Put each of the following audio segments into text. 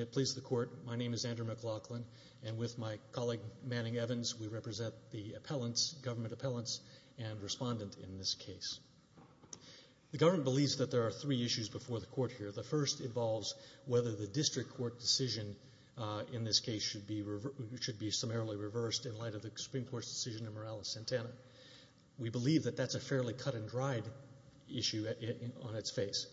am pleased to report, my name is Andrew McLachlan, and with my colleague Manning Evans, we are pleased to represent the government appellants and respondent in this case. The government believes that there are three issues before the court here. The first involves whether the district court decision in this case should be summarily reversed in light of the Supreme Court's decision in Morales-Santana. We believe that that's a fairly cut and dried issue on its face.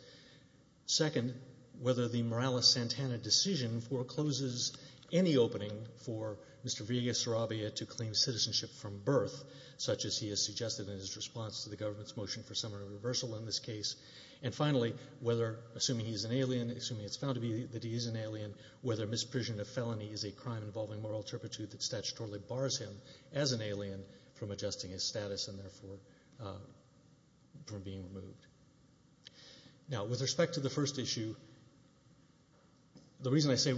Second, whether the Morales-Santana decision forecloses any opening for Mr. Villegas-Sarabia to claim citizenship from birth, such as he has suggested in his response to the government's motion for summary reversal in this case. And finally, whether, assuming he is an alien, assuming it's found to be that he is an alien, whether misprision of felony is a crime involving moral turpitude that statutorily bars him as an alien from adjusting his status and therefore from being removed. Now, with respect to the first issue, the reason I say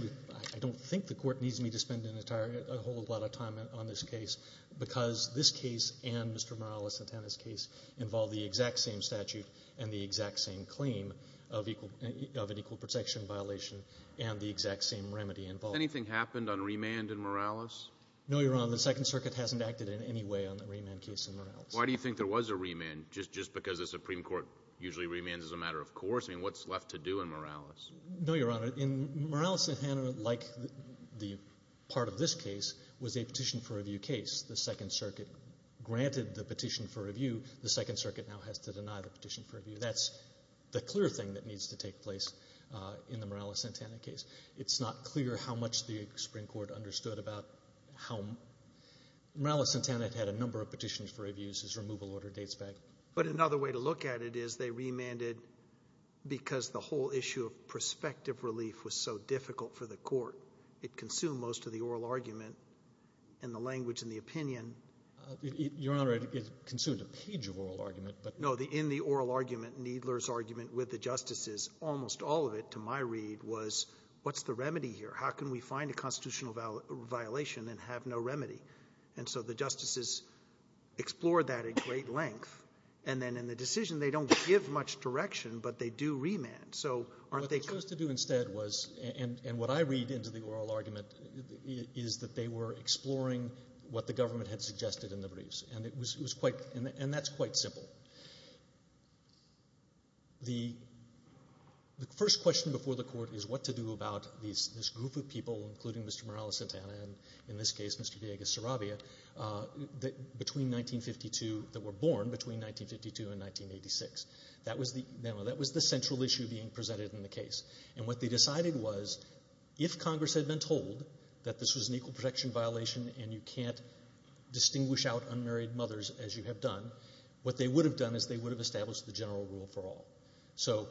I don't think the court needs me to spend a whole lot of time on this case because this case and Mr. Morales-Santana's case involve the exact same statute and the exact same claim of an equal protection violation and the exact same remedy involved. Has anything happened on remand in Morales? No, Your Honor. The Second Circuit hasn't acted in any way on the remand case in Morales. Why do you think there was a remand? Just because the Supreme Court usually remands as a matter of course? I mean, what's left to do in Morales? No, Your Honor. The part of this case was a petition for review case. The Second Circuit granted the petition for review. The Second Circuit now has to deny the petition for review. That's the clear thing that needs to take place in the Morales-Santana case. It's not clear how much the Supreme Court understood about how... Morales-Santana had a number of petitions for reviews, his removal order dates back. But another way to look at it is they remanded because the whole issue of prospective relief was so difficult for the court. It consumed most of the oral argument and the language and the opinion... Your Honor, it consumed a page of oral argument. No, in the oral argument, Needler's argument with the justices, almost all of it to my read was, what's the remedy here? How can we find a constitutional violation and have no remedy? And so the justices explored that at great length. And then in the decision, they don't give much direction, but they do remand. So aren't they... What they chose to do instead was, and what I read into the oral argument, is that they were exploring what the government had suggested in the briefs. And that's quite simple. The first question before the court is what to do about this group of people, including Mr. Morales-Santana and, in this case, Mr. Villegas-Zarrabia, that were born between 1952 and 1987. And that was the central issue being presented in the case. And what they decided was, if Congress had been told that this was an equal protection violation and you can't distinguish out unmarried mothers as you have done, what they would have done is they would have established the general rule for all. So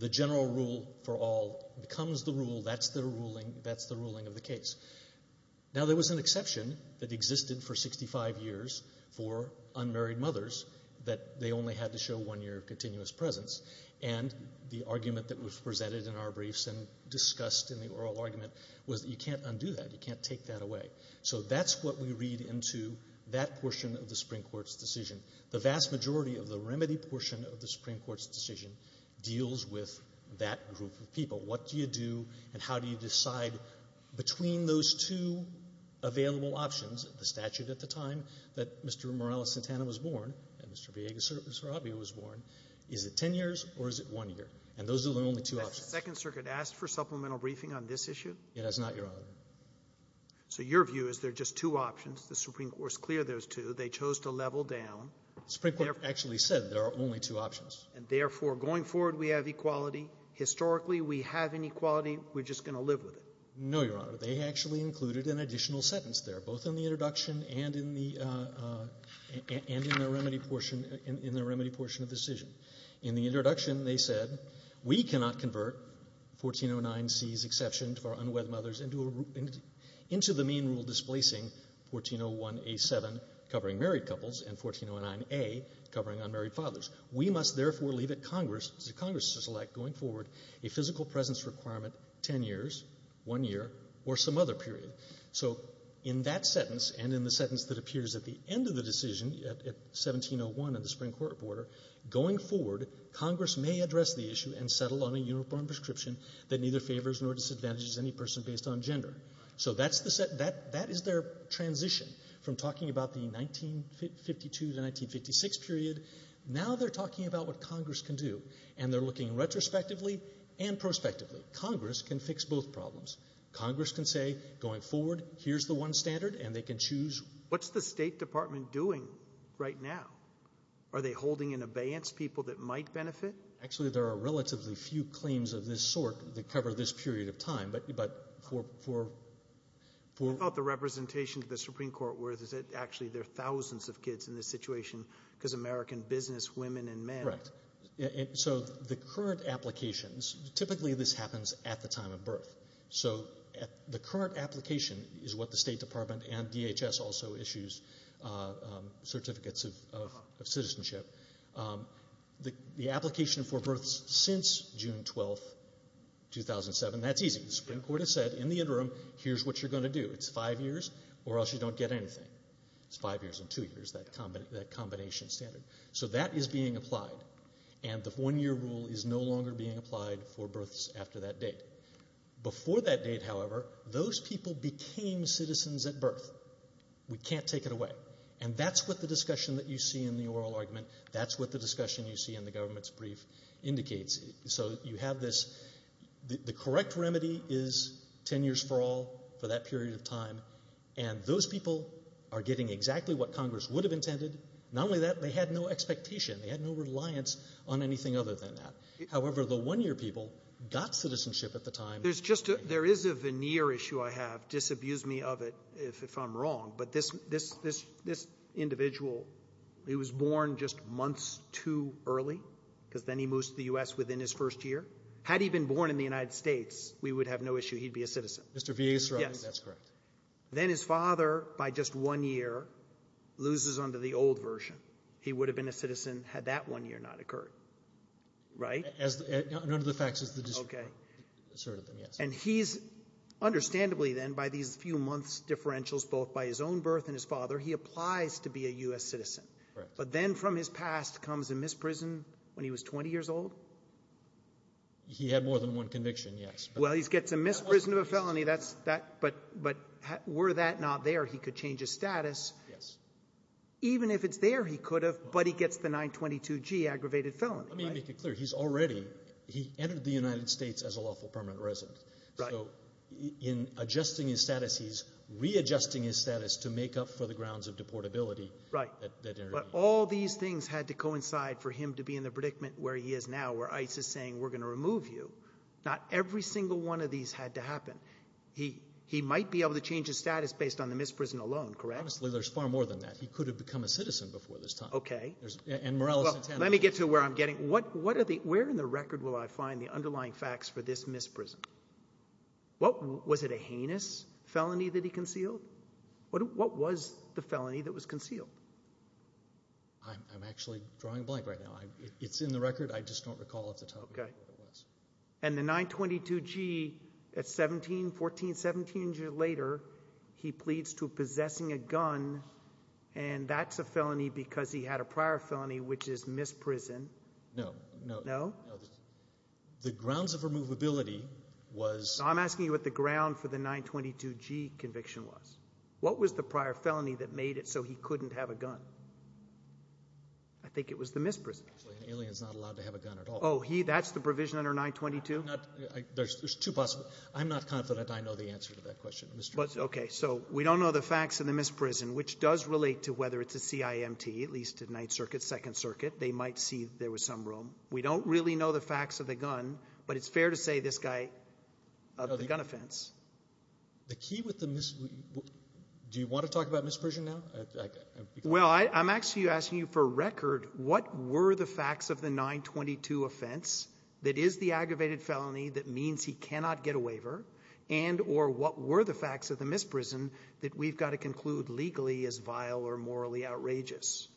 the general rule for all becomes the rule. That's the ruling of the case. Now, there was an exception that existed for 65 years for unmarried mothers that they only had to show one year of continuous presence. And the argument that was presented in our briefs and discussed in the oral argument was that you can't undo that. You can't take that away. So that's what we read into that portion of the Supreme Court's decision. The vast majority of the remedy portion of the Supreme Court's decision deals with that group of people. What do you do and how do you decide between those two available options, the statute at the time that Mr. Morales-Santana was born and Mr. Villegas-Sarabia was born? Is it ten years or is it one year? And those are the only two options. The Second Circuit asked for supplemental briefing on this issue? It has not, Your Honor. So your view is there are just two options. The Supreme Court has cleared those two. They chose to level down. The Supreme Court actually said there are only two options. And therefore, going forward, we have equality. Historically, we have inequality. We're just going to live with it. No, Your Honor, in the introduction and in the remedy portion of the decision. In the introduction, they said, we cannot convert 1409C's exception to our unwed mothers into the mean rule displacing 1401A.7 covering married couples and 1409A covering unmarried fathers. We must therefore leave it to Congress to select, going forward, a physical presence requirement ten years, one year, or some other period. So in that sentence and in the sentence that appears at the end of the decision at 1701 in the Supreme Court order, going forward, Congress may address the issue and settle on a uniform prescription that neither favors nor disadvantages any person based on gender. So that is their transition from talking about the 1952 to 1956 period. Now they're talking about what Congress can do. And they're looking retrospectively and prospectively. Congress can fix both problems. Congress can say, going forward, here's the one standard, and they can choose. What's the State Department doing right now? Are they holding in abeyance people that might benefit? Actually, there are relatively few claims of this sort that cover this period of time. But for... What about the representation of the Supreme Court where actually there are thousands of kids in this situation because it's American business, women and men? Correct. So the current applications, typically this happens at the time of birth. So the current application is what the State Department and DHS also issues, certificates of citizenship. The application for births since June 12, 2007, that's easy. The Supreme Court has said in the interim, here's what you're going to do. It's five years or else you don't get anything. It's five years and two years, that combination standard. So that is being applied. And the one-year rule is no longer being applied for births after that date. Before that date, however, those people became citizens at birth. We can't take it away. And that's what the discussion that you see in the oral argument, that's what the discussion you see in the government's brief indicates. So you have this... The correct remedy is ten years for all for that period of time. And those people are getting exactly what Congress would have intended. Not only that, they had no expectation. They had no reliance on anything other than that. However, the one-year people got citizenship at the time. There is a veneer issue I have. Disabuse me of it if I'm wrong. But this individual, he was born just months too early because then he moves to the U.S. within his first year. Had he been born in the United States, we would have no issue. He'd be a citizen. Roberts. Mr. Vies, sir, I think that's correct. Then his father, by just one year, loses under the old version. He would have been a citizen had that one year not occurred. Right? None of the facts is the district court asserted them, yes. Okay. And he's, understandably then, by these few months' differentials, both by his own birth and his father, he applies to be a U.S. citizen. Correct. But then from his past comes a misprison when he was 20 years old? He had more than one conviction, yes. Well, he gets a misprison of a felony. That's that. But were that not there, he could change his status. Yes. Even if it's there, he could have. But he gets the 922G, aggravated felony. Let me make it clear. He's already, he entered the United States as a lawful permanent resident. Right. So in adjusting his status, he's readjusting his status to make up for the grounds of deportability that intervened. But all these things had to coincide for him to be in the predicament where he is now, where ICE is saying, we're going to remove you. Not every single one of these had to happen. He might be able to change his status based on the misprison alone, correct? Honestly, there's far more than that. He could have become a citizen before this time. Okay. And Morales intended. Let me get to where I'm getting. What are the, where in the record will I find the underlying facts for this misprison? What, was it a heinous felony that he concealed? What was the felony that was concealed? I'm actually drawing a blank right now. It's in the record. I just don't recall at the time. And the 922G at 17, 14, 17 years later, he pleads to possessing a gun and that's a felony because he had a prior felony, which is misprison. No, no, no. The grounds of removability was. I'm asking you what the ground for the 922G conviction was. What was the prior felony that made it so he couldn't have a gun? I think it was the misprison. Actually, an alien is not allowed to have a gun at all. Oh, he, that's the provision under 922? Not, there's two possible. I'm not confident I know the answer to that question. Okay. So we don't know the facts in the misprison, which does relate to whether it's a CIMT, at least at Ninth Circuit, Second Circuit, they might see there was some room. We don't really know the facts of the gun, but it's fair to say this guy, of the gun offense. The key with the mis, do you want to talk about misprision now? Well, I'm actually asking you for record, what were the facts of the 922 offense that is the aggravated felony that means he cannot get a waiver and or what were the facts of the misprison that we've got to conclude legally as vile or morally outrageous?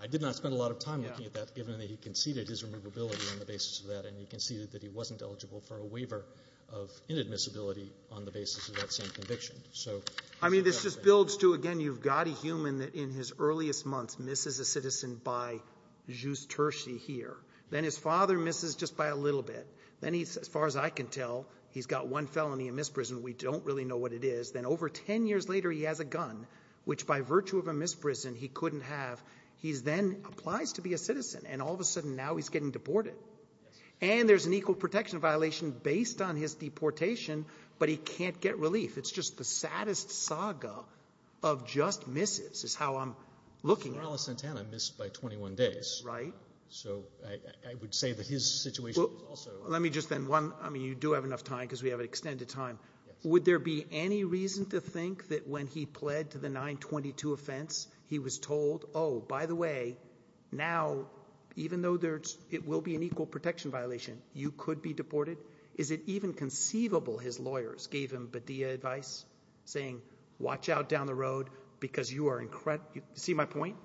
I did not spend a lot of time looking at that given that he conceded his removability on the basis of that and he conceded that he wasn't eligible for a waiver of inadmissibility on the basis of that same conviction. So I mean, this just builds to, again, you've got a human that in his earliest months misses a citizen by jus terci here. Then his father misses just by a little bit. Then he's, as far as I can tell, he's got one felony in misprison. We don't really know what it is. Then over 10 years later, he has a gun, which by virtue of a misprison, he couldn't have. He's then applies to be a citizen. And all of a sudden now he's getting deported. And there's an equal protection violation based on his deportation, but he can't get relief. It's just the saddest saga of just misses is how I'm looking at it. Carlos Santana missed by 21 days. Right. So I would say that his situation is also... Let me just then one, I mean, you do have enough time because we have an extended time. Would there be any reason to think that when he pled to the 922 offense, he was told, oh, by the way, now, even though there's, it will be an equal protection violation, you could be deported. Is it even conceivable his lawyers gave him Badea advice saying, watch out down the road because you are incorrect. You see my point?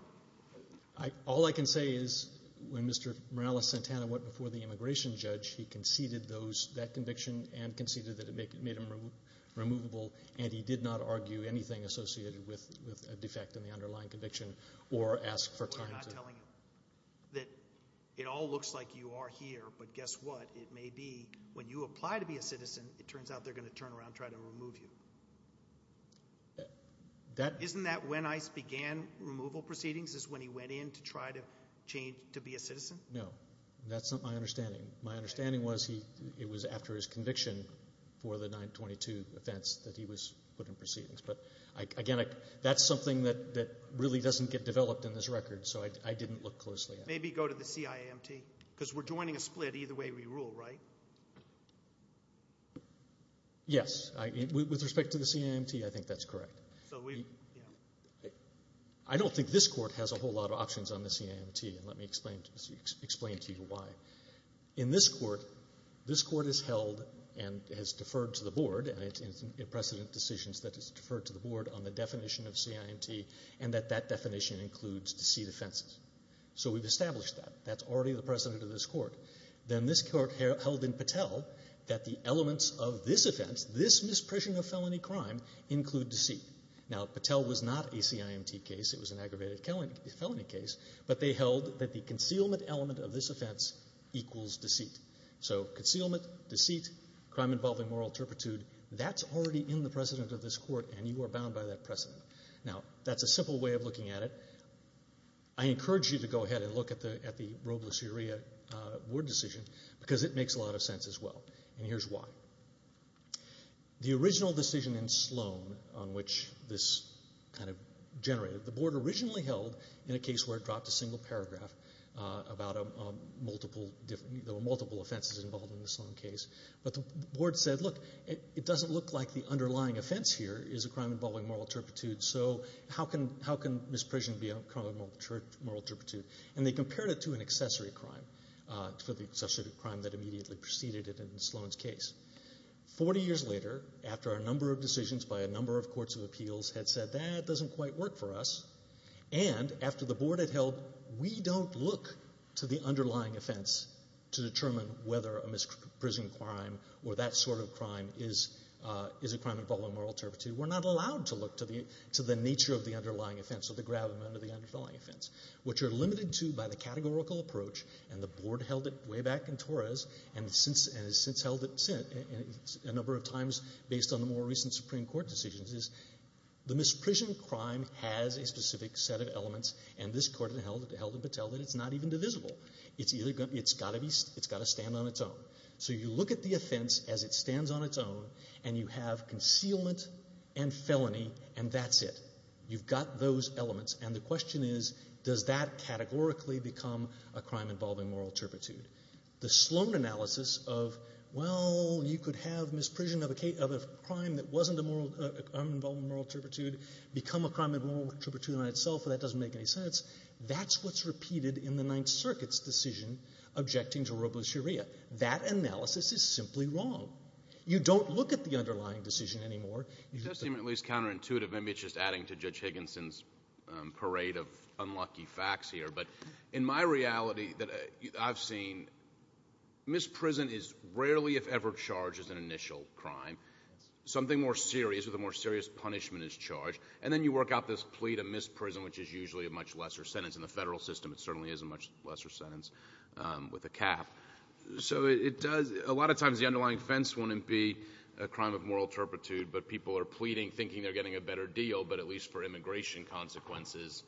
All I can say is when Mr. Morales Santana went before the immigration judge, he conceded those, that conviction and conceded that it made him removable. And he did not argue anything associated with a defect in the underlying conviction. We're not telling you that it all looks like you are here, but guess what? It may be when you apply to be a citizen, it turns out they're going to turn around, try to remove you. Isn't that when ICE began removal proceedings is when he went in to try to change, to be a citizen? No, that's not my understanding. My understanding was he, it was after his conviction for the 922 offense that he was put in proceedings. But again, that's something that really doesn't get developed in this record, so I didn't look closely. Maybe go to the CIMT, because we're joining a split either way we rule, right? Yes. With respect to the CIMT, I think that's correct. I don't think this Court has a whole lot of options on the CIMT, and let me explain to you why. In this Court, this Court has held and has deferred to the Board, and it's in precedent that it's deferred to the Board on the definition of CIMT, and that that definition includes deceit offenses. So we've established that. That's already the precedent of this Court. Then this Court held in Patel that the elements of this offense, this misprision of felony crime, include deceit. Now, Patel was not a CIMT case, it was an aggravated felony case, but they held that the concealment element of this offense equals deceit. So concealment, deceit, crime involving moral turpitude, that's already in the precedent of this Court, and you are bound by that precedent. Now, that's a simple way of looking at it. I encourage you to go ahead and look at the Robles-Urrea Board decision, because it makes a lot of sense as well, and here's why. The original decision in Sloan on which this generated, the Board originally held in a case where it dropped a single paragraph about multiple offenses involved in the Sloan case, but the Board said, look, it doesn't look like the underlying offense here is a crime involving moral turpitude, so how can misprision be a crime of moral turpitude? And they compared it to an accessory crime, to the accessory crime that immediately preceded it in Sloan's case. Forty years later, after a number of decisions by a number of courts of appeals had said, that doesn't quite work for us, and after the Board had held, we don't look to the underlying offense to determine whether a misprision crime or that sort of crime is a crime involving moral turpitude. We're not allowed to look to the nature of the underlying offense or the gravamen of the underlying offense. What you're limited to, by the categorical approach, and the Board held it way back in Torres and has since held it, a number of times, based on the more recent Supreme Court decisions, the misprision crime has a specific set of elements, and this Court held it to tell that it's not even divisible. It's got to stand on its own. So you look at the offense as it stands on its own, and you have concealment and felony, and that's it. You've got those elements, and the question is, does that categorically become a crime involving moral turpitude? The Sloan analysis of, well, you could have misprision of a crime that wasn't a crime involving moral turpitude become a crime involving moral turpitude on itself, and that doesn't make any sense, that's what's repeated in the Ninth Circuit's decision objecting to robochuria. That analysis is simply wrong. You don't look at the underlying decision anymore. It does seem at least counterintuitive. Maybe it's just adding to Judge Higginson's parade of unlucky facts here, but in my reality that I've seen, misprison is rarely, if ever, charged as an initial crime. Something more serious with a more serious punishment is charged, and then you work out this plea to misprison, which is usually a much lesser sentence. In the federal system, it certainly is a much lesser sentence with a cap. So it does, a lot of times, the underlying offense wouldn't be a crime of moral turpitude, but people are pleading, thinking they're getting a better deal, but at least for immigration consequences,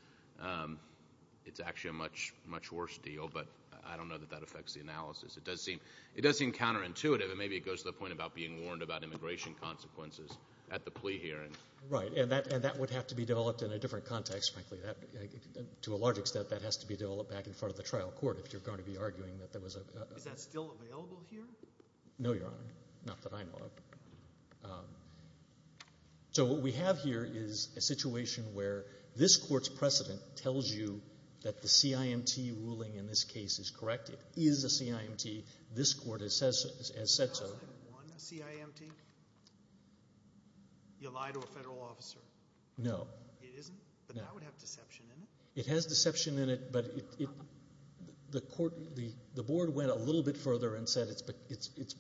it's actually a much worse deal, but I don't know that that affects the analysis. It does seem counterintuitive, and maybe it goes to the point about being warned about immigration consequences at the plea hearing. Right, and that would have to be developed in a different context, frankly. To a large extent, that has to be developed back in front of the trial court if you're going to be arguing that Is that still available here? No, Your Honor, not that I know of. So what we have here is a situation where this court's precedent tells you that the CIMT ruling in this case is correct. It is a CIMT. This court has said so. Is that one CIMT? You lie to a federal officer. No. It isn't? No. But that would have deception in it. It has deception in it, but the board went a little bit further and said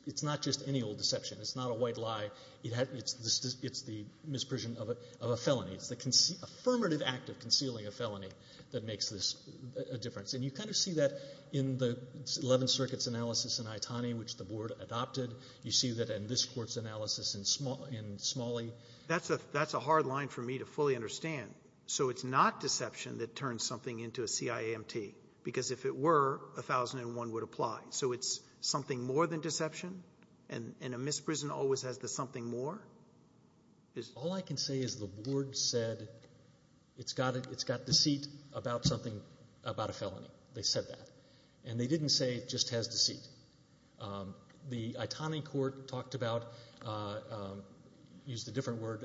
it's not just any old deception. It's not a white lie. It's the misprision of a felony. It's the affirmative act of concealing a felony that makes this a difference, and you kind of see that in the Eleventh Circuit's analysis in Itani, which the board adopted. You see that in this court's analysis in Smalley. That's a hard line for me to fully understand, so it's not deception that turns something into a CIMT, because if it were, 1001 would apply. So it's something more than deception, and a misprision always has the something more? All I can say is the board said it's got deceit about a felony. They said that, and they didn't say it just has deceit. The Itani court talked about, used a different word,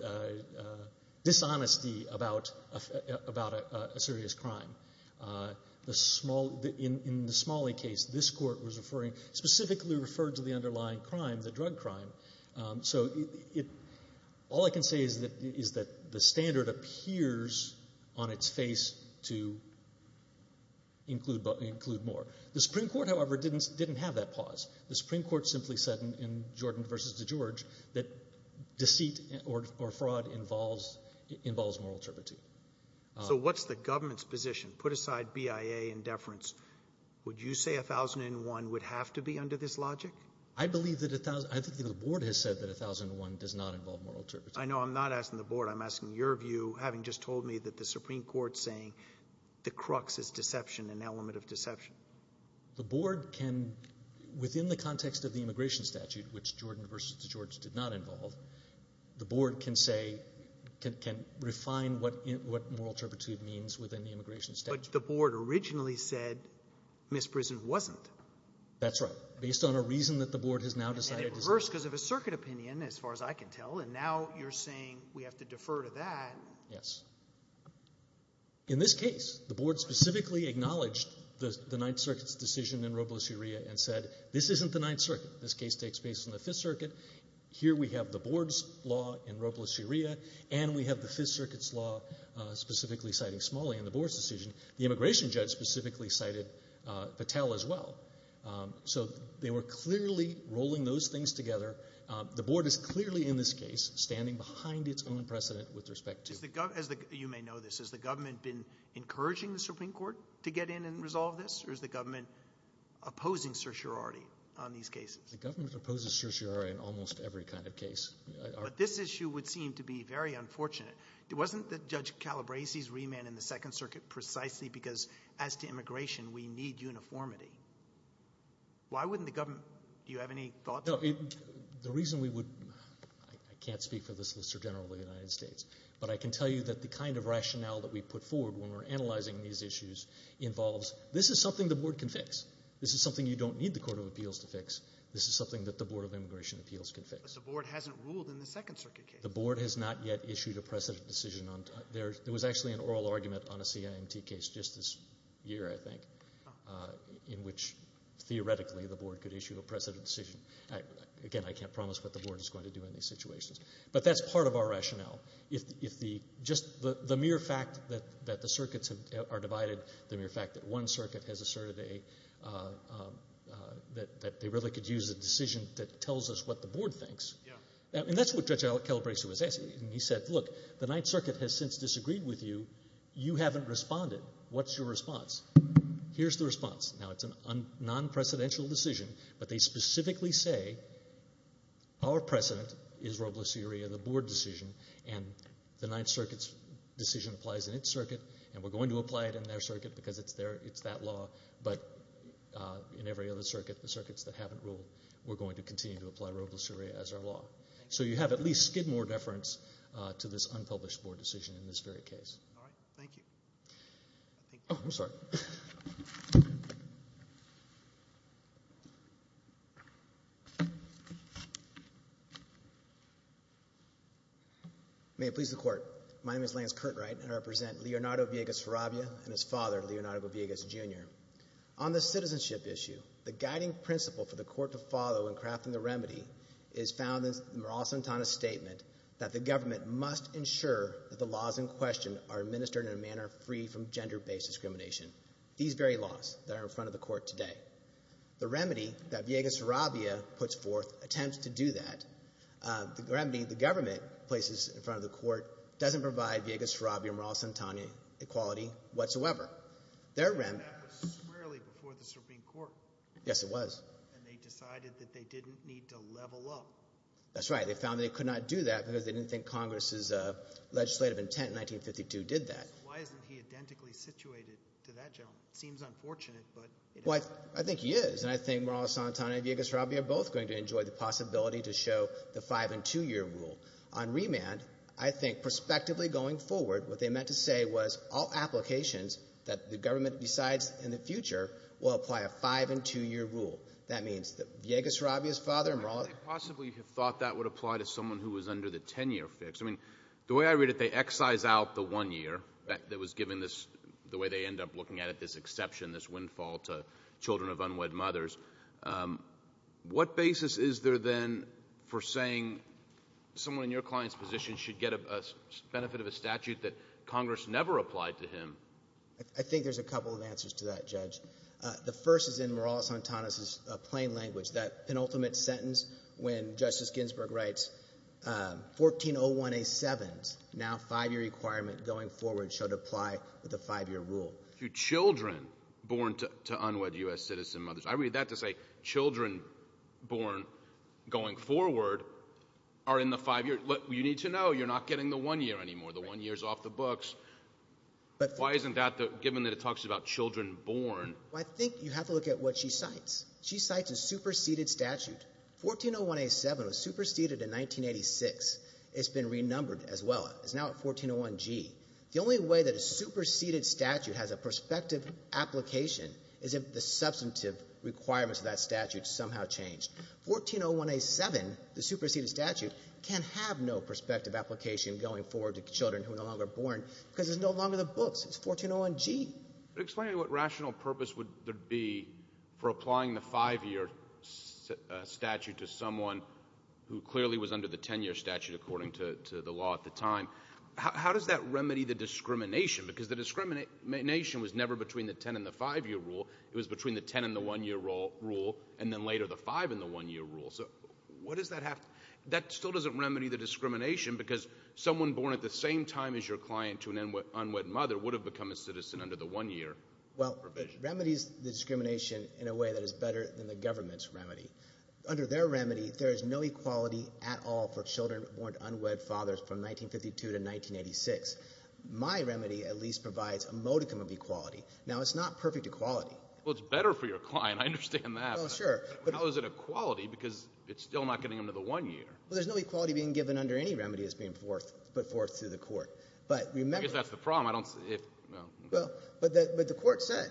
dishonesty about a serious crime. In the Smalley case, this court was referring, specifically referred to the underlying crime, the drug crime. So all I can say is that the standard appears on its face to include more. The Supreme Court, however, didn't have that pause. The Supreme Court simply said in Jordan v. DeGeorge that deceit or fraud involves moral turpitude. Roberts. So what's the government's position? Put aside BIA and deference. Would you say 1001 would have to be under this logic? Carvin. I believe that 1001, I think the board has said that 1001 does not involve moral turpitude. Roberts. I know. I'm not asking the board. I'm asking your view, having just told me that the deception. Carvin. The board can, within the context of the immigration statute, which Jordan v. DeGeorge did not involve, the board can say, can refine what moral turpitude means within the immigration statute. Roberts. But the board originally said misprision wasn't. Carvin. That's right. Based on a reason that the board has now decided to say. Roberts. And at first, because of a circuit opinion, as far as I can tell, and now you're saying we have to defer to that. Carvin. Yes. In this case, the board specifically acknowledged the Ninth Circuit's decision in Robles-Urrea and said, this isn't the Ninth Circuit. This case takes place in the Fifth Circuit. Here we have the board's law in Robles-Urrea, and we have the Fifth Circuit's law specifically citing Smalley in the board's decision. The immigration judge specifically cited Patel as well. So they were clearly rolling those things together. The board is the, you may know this, has the government been encouraging the Supreme Court to get in and resolve this? Or is the government opposing certiorari on these cases? Roberts. The government opposes certiorari in almost every kind of case. Carvin. But this issue would seem to be very unfortunate. It wasn't that Judge Calabresi's remand in the Second Circuit precisely because as to immigration, we need uniformity. Why wouldn't the government, do you have any thoughts? Roberts. The reason we would, I can't speak for the Solicitor General of the United States, but I can tell you that the kind of rationale that we put forward when we're analyzing these issues involves, this is something the board can fix. This is something you don't need the Court of Appeals to fix. This is something that the Board of Immigration Appeals can fix. Carvin. But the board hasn't ruled in the Second Circuit case. Roberts. The board has not yet issued a precedent decision on, there was actually an oral argument on a CIMT case just this year, I think, in which theoretically the board could issue a precedent decision. Again, I can't promise what the board is going to do in these situations. But that's part of our rationale. Just the mere fact that the circuits are divided, the mere fact that one circuit has asserted that they really could use a decision that tells us what the board thinks. And that's what Judge Calabresi was asking. He said, look, the Ninth Circuit has since disagreed with you. You haven't responded. What's your response? Here's the response. Now, it's a non-precedential decision, but they specifically say, our precedent is Robles-Urrea, the board decision. And the Ninth Circuit's decision applies in its circuit, and we're going to apply it in their circuit because it's that law. But in every other circuit, the circuits that haven't ruled, we're going to continue to apply Robles-Urrea as our law. So you have at least skid more deference to this unpublished board decision in this very case. All right. Thank you. May it please the Court. My name is Lance Curtright, and I represent Leonardo Villegas Ferrabbia and his father, Leonardo Villegas, Jr. On the citizenship issue, the guiding principle for the Court to follow in crafting the remedy is found in the Morales-Santana statement that government must ensure that the laws in question are administered in a manner free from gender-based discrimination. These very laws that are in front of the Court today. The remedy that Villegas-Ferrabbia puts forth attempts to do that. The remedy the government places in front of the Court doesn't provide Villegas-Ferrabbia and Morales-Santana equality whatsoever. Their remedy— That was squarely before the Supreme Court. Yes, it was. And they decided that they didn't need to level up. That's right. They found they could not do that because they didn't think Congress's legislative intent in 1952 did that. Why isn't he identically situated to that gentleman? It seems unfortunate, but— Well, I think he is, and I think Morales-Santana and Villegas-Ferrabbia are both going to enjoy the possibility to show the five-and-two-year rule. On remand, I think prospectively going forward, what they meant to say was all applications that the government decides in the future will apply a five-and-two-year rule. That means that Villegas-Ferrabbia's father— They possibly thought that would apply to someone who was under the 10-year fix. I mean, the way I read it, they excise out the one year that was given this—the way they end up looking at it, this exception, this windfall to children of unwed mothers. What basis is there then for saying someone in your client's position should get a benefit of a statute that Congress never applied to him? I think there's a couple of answers to that, Judge. The first is in Morales-Santana's plain language, that penultimate sentence when Justice Ginsburg writes, 1401A7, now five-year requirement going forward, should apply with a five-year rule. To children born to unwed U.S. citizen mothers. I read that to say children born going forward are in the five-year—you need to know you're not getting the one year anymore, the one year's off the books. Why isn't that, given that it talks about children born— I think you have to look at what she cites. She cites a superseded statute. 1401A7 was superseded in 1986. It's been renumbered as well. It's now at 1401G. The only way that a superseded statute has a prospective application is if the substantive requirements of that statute somehow change. 1401A7, the superseded statute, can have no prospective application going forward to children who are no longer born because it's no longer the books. It's 1401G. Explain to me what rational purpose would there be for applying the five-year statute to someone who clearly was under the 10-year statute according to the law at the time. How does that remedy the discrimination? Because the discrimination was never between the 10 and the five-year rule. It was between the 10 and the one-year rule and then later the five and the one-year rule. So what does that have—that still doesn't remedy the discrimination because someone born at the same time as your client to an unwed mother would have become a citizen under the one-year provision? Well, it remedies the discrimination in a way that is better than the government's remedy. Under their remedy, there is no equality at all for children born to unwed fathers from 1952 to 1986. My remedy at least provides a modicum of equality. Now, it's not perfect equality. Well, it's better for your client. I understand that. Well, sure. But how is it equality because it's still not getting them to the one-year? Well, there's no equality being given under any remedy that's being put forth through the court. But remember—I guess that's the problem. Well, but the court said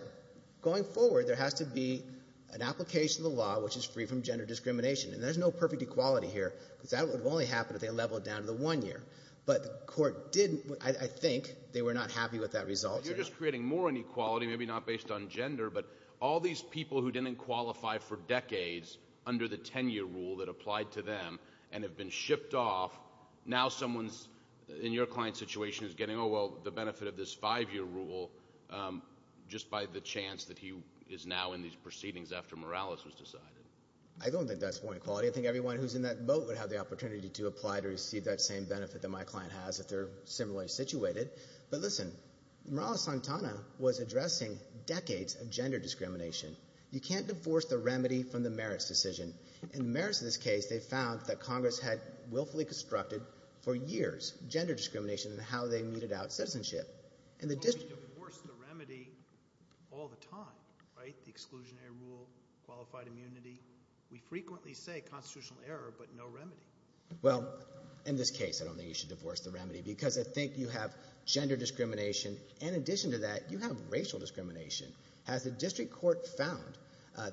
going forward there has to be an application of the law which is free from gender discrimination. And there's no perfect equality here because that would only happen if they leveled down to the one-year. But the court didn't—I think they were not happy with that result. You're just creating more inequality, maybe not based on gender, but all these people who didn't qualify for decades under the 10-year rule that applied to them and have been shipped off. Now someone in your client's situation is getting, oh, well, the benefit of this five-year rule just by the chance that he is now in these proceedings after Morales was decided. I don't think that's more equality. I think everyone who's in that boat would have the opportunity to apply to receive that same benefit that my client has if they're similarly situated. But listen, Morales-Santana was addressing decades of gender discrimination. You can't divorce the remedy from the merits decision. In the merits of this case, they found that Congress had willfully constructed for years gender discrimination and how they muted out citizenship. And the district— But we divorce the remedy all the time, right? The exclusionary rule, qualified immunity. We frequently say constitutional error, but no remedy. Well, in this case, I don't think you should divorce the remedy because I think you have gender discrimination. And in addition to that, you have racial discrimination, as the district court found.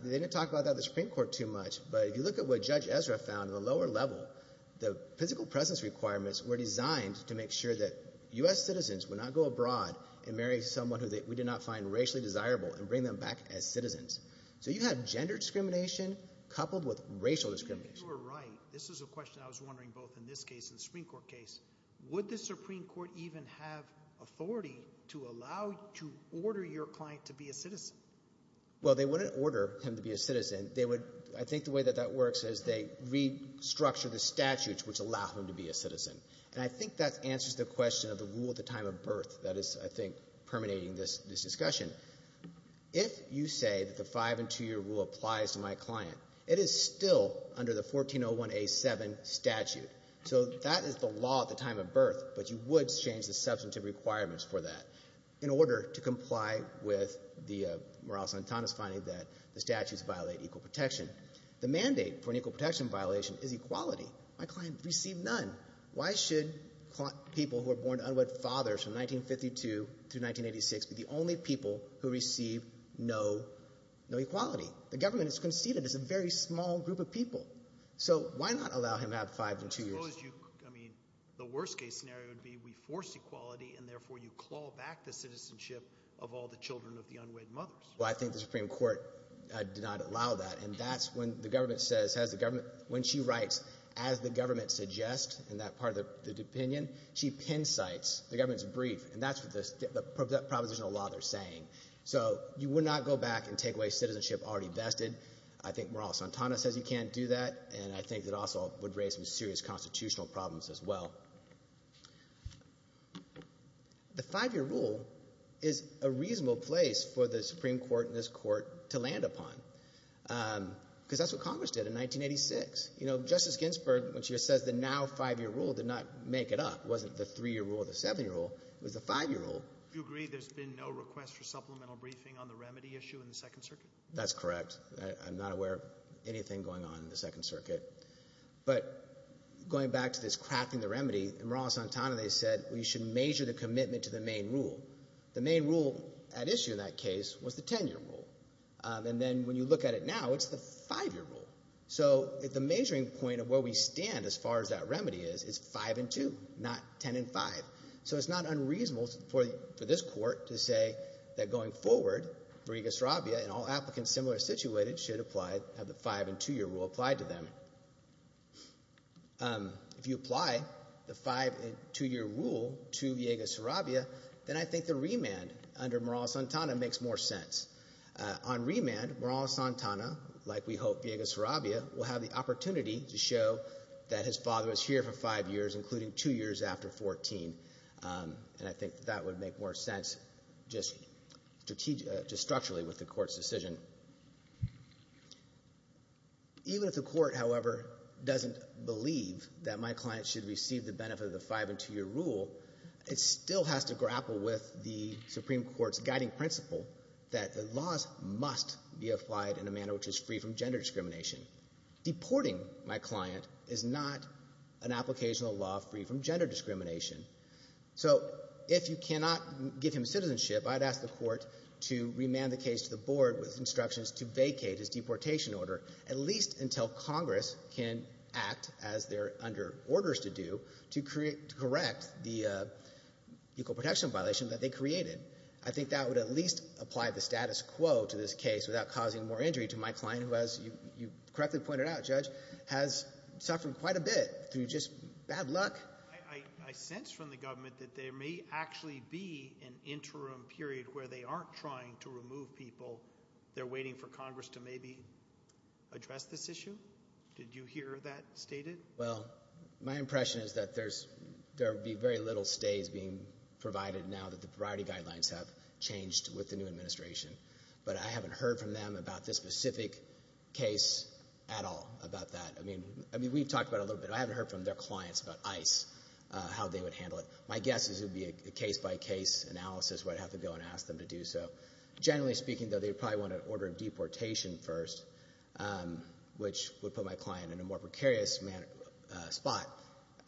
They didn't talk about that in the Supreme Court too much, but if you look at what Judge Ezra found in the lower level, the physical presence requirements were designed to make sure that U.S. citizens would not go abroad and marry someone who we did not find racially desirable and bring them back as citizens. So you have gender discrimination coupled with racial discrimination. You are right. This is a question I was wondering both in this case and the Supreme Court case. Would the Supreme Court even have authority to allow—to order your client to be a citizen? Well, they wouldn't order him to be a citizen. They would—I think the way that that works is they restructure the statutes which allow him to be a citizen. And I think that answers the question of the rule at the time of birth that is, I think, permeating this discussion. If you say that the five- and two-year rule applies to my client, it is still under the 1401A7 statute. So that is the law at the time of birth, but you would change the substantive requirements for that in order to comply with the Morales-Antonis finding that the statutes violate equal protection. The mandate for an equal protection violation is equality. My client received none. Why should people who are born to unwed fathers from 1952 through 1986 be the only people who receive no equality? The government has conceded it's a very small group of people. So why not allow him to have five and two years? I suppose you—I mean, the worst-case scenario would be we force equality and therefore you claw back the citizenship of all the children of the unwed mothers. Well, I think the Supreme Court did not allow that, and that's when the government says—has the government—when she writes, as the government suggests in that part of the opinion, she pin-cites the government's brief, and that's what the propositional law they're saying. So you would not go back and take away citizenship already vested. I think Morales-Antonis says you can't do that, and I think that also would raise some serious constitutional problems as well. The five-year rule is a reasonable place for the Supreme Court and this Court to land upon, because that's what Congress did in 1986. You know, Justice Ginsburg, when she says the now five-year rule did not make it up—it wasn't the three-year rule or the seven-year rule—it was the five-year rule. You agree there's been no request for supplemental briefing on the remedy issue in the Second Circuit? That's correct. I'm not aware of anything going on in the Second Circuit. But going back to this crafting the remedy, Morales-Antonis said we should measure the commitment to the main rule. The main rule at issue in that case was the ten-year rule. And then when you look at it now, it's the five-year rule. So the measuring point of where we stand as far as that remedy is, is five and two, not ten and five. So it's not unreasonable for this Court to say that going forward, Virigus Rabia and all applicants similarly situated should apply—have the five- and two-year rule applied to them. But if you apply the five- and two-year rule to Virigus Rabia, then I think the remand under Morales-Antonis makes more sense. On remand, Morales-Antonis, like we hope Virigus Rabia, will have the opportunity to show that his father was here for five years, including two years after 14. And I think that would make more sense just strategically, just structurally with the Court's doesn't believe that my client should receive the benefit of the five- and two-year rule, it still has to grapple with the Supreme Court's guiding principle that the laws must be applied in a manner which is free from gender discrimination. Deporting my client is not an applicational law free from gender discrimination. So if you cannot give him citizenship, I'd ask the Court to remand the case to the Board with instructions to vacate his can act as they're under orders to do to create—to correct the equal protection violation that they created. I think that would at least apply the status quo to this case without causing more injury to my client, who, as you correctly pointed out, Judge, has suffered quite a bit through just bad luck. I sense from the government that there may actually be an interim period where they aren't trying to remove people. They're waiting for Congress to maybe address this issue. Did you hear that stated? Well, my impression is that there's—there will be very little stays being provided now that the Variety Guidelines have changed with the new administration, but I haven't heard from them about this specific case at all about that. I mean, I mean, we've talked about a little bit. I haven't heard from their clients about ICE, how they would handle it. My guess is it would be a case-by-case analysis where I'd have to go and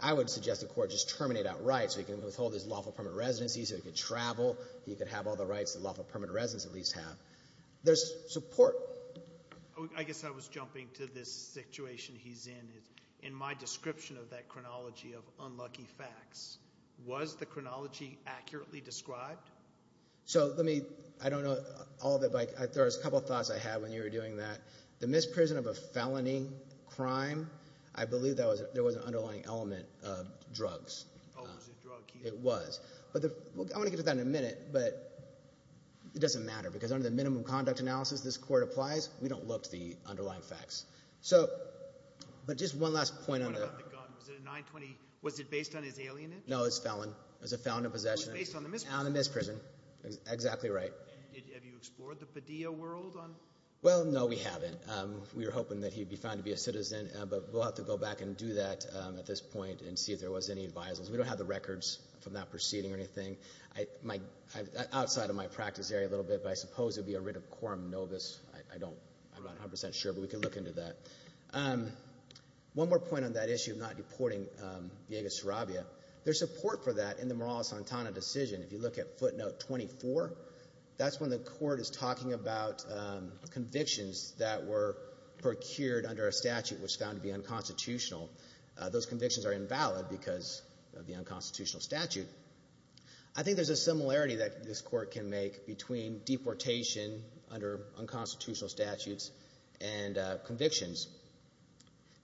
I would suggest the court just terminate outright so he can withhold his lawful permanent residency so he could travel, he could have all the rights that lawful permanent residents at least have. There's support. I guess I was jumping to this situation he's in. In my description of that chronology of unlucky facts, was the chronology accurately described? So let me—I don't know all the—there's a couple thoughts I had when you were doing that. The misprison of a felony crime, I believe there was an underlying element of drugs. It was. I want to get to that in a minute, but it doesn't matter because under the minimum conduct analysis this court applies, we don't look to the underlying facts. So, but just one last point on the— What about the gun? Was it a 920—was it based on his alienage? No, it was a felon. It was a felon in possession. It was based on the misprison. On the misprison. Exactly right. Have you explored the Padilla world on— Well, no, we haven't. We were hoping that he'd be found to be a citizen, but we'll have to go back and do that at this point and see if there was any advisals. We don't have the records from that proceeding or anything. Outside of my practice area a little bit, but I suppose it would be a writ of quorum novus. I don't—I'm not 100% sure, but we can look into that. One more point on that issue of not deporting Villegas Sarabia. There's support for that in the Morales-Santana decision. If you look at footnote 24, that's when the court is talking about convictions that were procured under a statute which found to be unconstitutional. Those convictions are invalid because of the unconstitutional statute. I think there's a similarity that this court can make between deportation under unconstitutional statutes and convictions.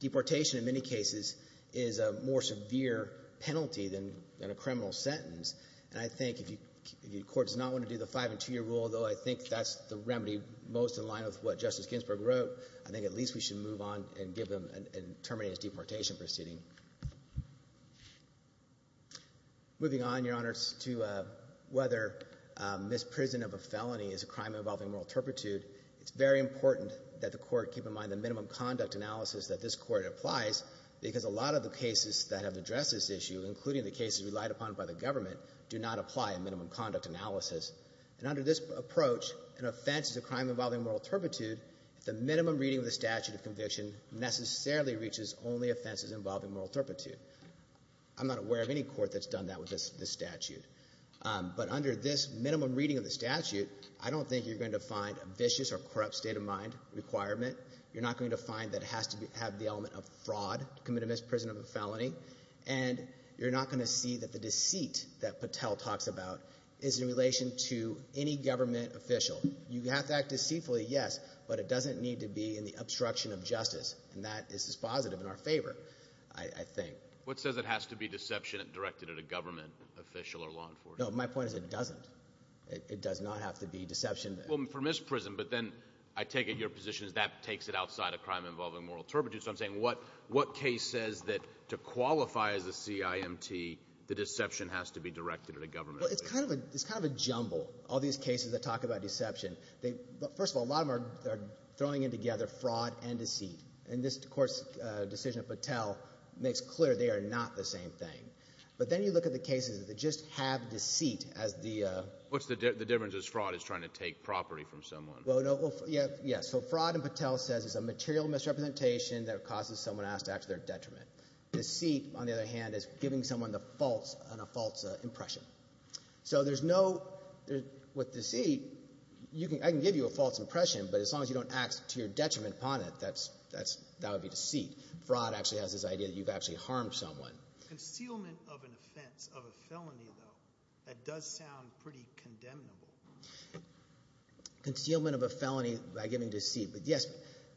Deportation in many cases is a more severe penalty than a criminal sentence, and I think if your court does not want to do the five and two-year rule, although I think that's the remedy most in line with what Justice Ginsburg wrote, I think at least we should move on and give them—and terminate his deportation proceeding. Moving on, Your Honors, to whether misprison of a felony is a crime involving moral turpitude. It's very important that the court keep in mind the minimum conduct analysis that this court applies because a lot of the cases that have addressed this issue, including the cases relied upon by the government, do not apply a minimum conduct analysis. And under this approach, an offense is a crime involving moral turpitude if the minimum reading of the statute of conviction necessarily reaches only offenses involving moral turpitude. I'm not aware of any court that's done that with this statute. But under this minimum reading of the statute, I don't think you're going to find a vicious or corrupt state of mind requirement. You're not going to find that it has to have the element of fraud to commit a misprison of a felony, and you're not going to see that the deceit that Patel talks about is in relation to any government official. You have to act deceitfully, yes, but it doesn't need to be in the obstruction of justice, and that is positive in our favor, I think. What says it has to be deception directed at a government official or law enforcement? No, my point is it doesn't. It does not have to be deception. Well, for misprison, but then I take it your position is that takes it outside of crime involving moral turpitude. So I'm saying what case says that to qualify as a CIMT, the deception has to be directed at a government official? Well, it's kind of a jumble, all these cases that talk about deception. First of all, a lot of them are throwing in together fraud and deceit. And this Court's decision of Patel makes clear they are not the same thing. But then you look at the cases that just have deceit as the... What's the difference as fraud is trying to take property from someone? Well, yeah, so fraud and Patel says it's a material misrepresentation that causes someone to ask to act to their detriment. Deceit, on the other hand, is giving someone a false impression. So there's no, with deceit, I can give you a false impression, but as long as you don't act to your detriment upon it, that would be deceit. Fraud actually has this idea that you've actually harmed someone. Concealment of an offense, of a felony, though, that does sound pretty condemnable. Concealment of a felony by giving deceit, but yes,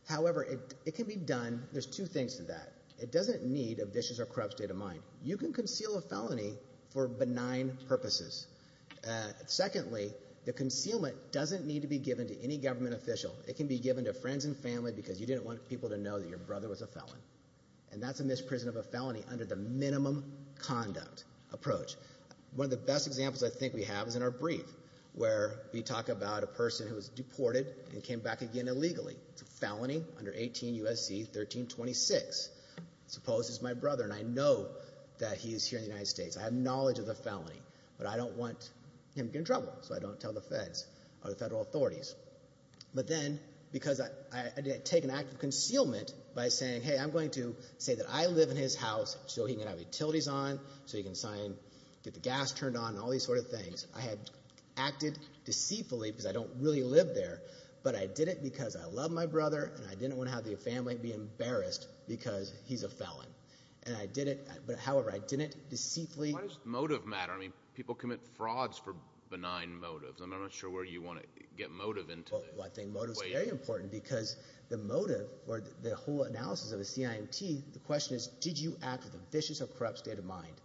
however, it can be done. There's two things to that. It doesn't need a vicious or corrupt state of mind. You can conceal a felony for benign purposes. Secondly, the concealment doesn't need to be given to any government official. It can be given to a prison family because you didn't want people to know that your brother was a felon. And that's a misprision of a felony under the minimum conduct approach. One of the best examples I think we have is in our brief, where we talk about a person who was deported and came back again illegally. It's a felony under 18 U.S.C. 1326. Suppose it's my brother, and I know that he is here in the United States. I have knowledge of the felony, but I don't want him to get in trouble, so I don't tell the feds or the federal authorities. But then, because I didn't take an act of concealment by saying, hey, I'm going to say that I live in his house, so he can have utilities on, so he can sign, get the gas turned on, and all these sort of things. I had acted deceitfully because I don't really live there, but I did it because I love my brother, and I didn't want to have the family be embarrassed because he's a felon. And I did it, but however, I didn't deceitfully... Why does motive matter? I mean, people commit frauds for benign motives. I'm not sure where you want to get motive into this. Well, I think motive is very important because the motive, or the whole analysis of a CIMT, the question is, did you act with a vicious or corrupt state of mind?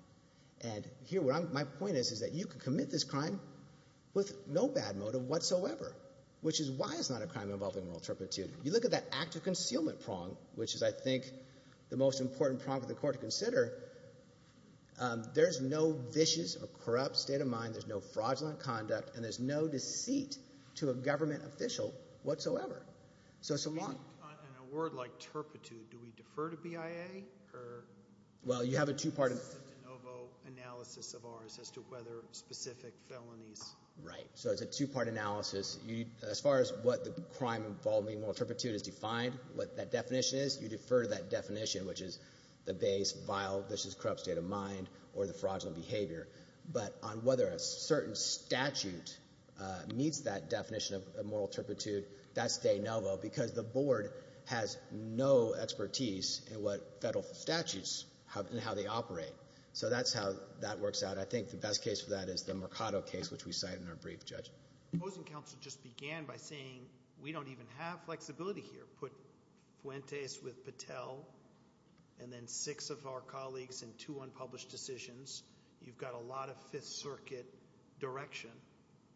And here, my point is, is that you could commit this crime with no bad motive whatsoever, which is why it's not a crime involving moral turpitude. You look at that act of concealment prong, which is, I think, the most important prong for the court to consider. There's no vicious or corrupt state of mind, there's no fraudulent conduct, and there's no deceit to a government official whatsoever. So it's a lot... In a word like turpitude, do we defer to BIA, or... Well, you have a two-part... ...de novo analysis of ours as to whether specific felonies... Right, so it's a two-part analysis. As far as what the crime involving moral turpitude is defined, what that definition is, you defer to that definition, which is the base, vile, vicious, corrupt state of mind, or the fraudulent behavior. But on whether a certain statute meets that definition of moral turpitude, that's de novo, because the board has no expertise in what federal statutes, in how they operate. So that's how that works out. I think the best case for that is the Mercado case, which we cite in our brief, Judge. Opposing counsel just began by saying, we don't even have flexibility here. Put Fuentes with Patel, and then six of our colleagues in two unpublished decisions. You've got a lot of Fifth Circuit direction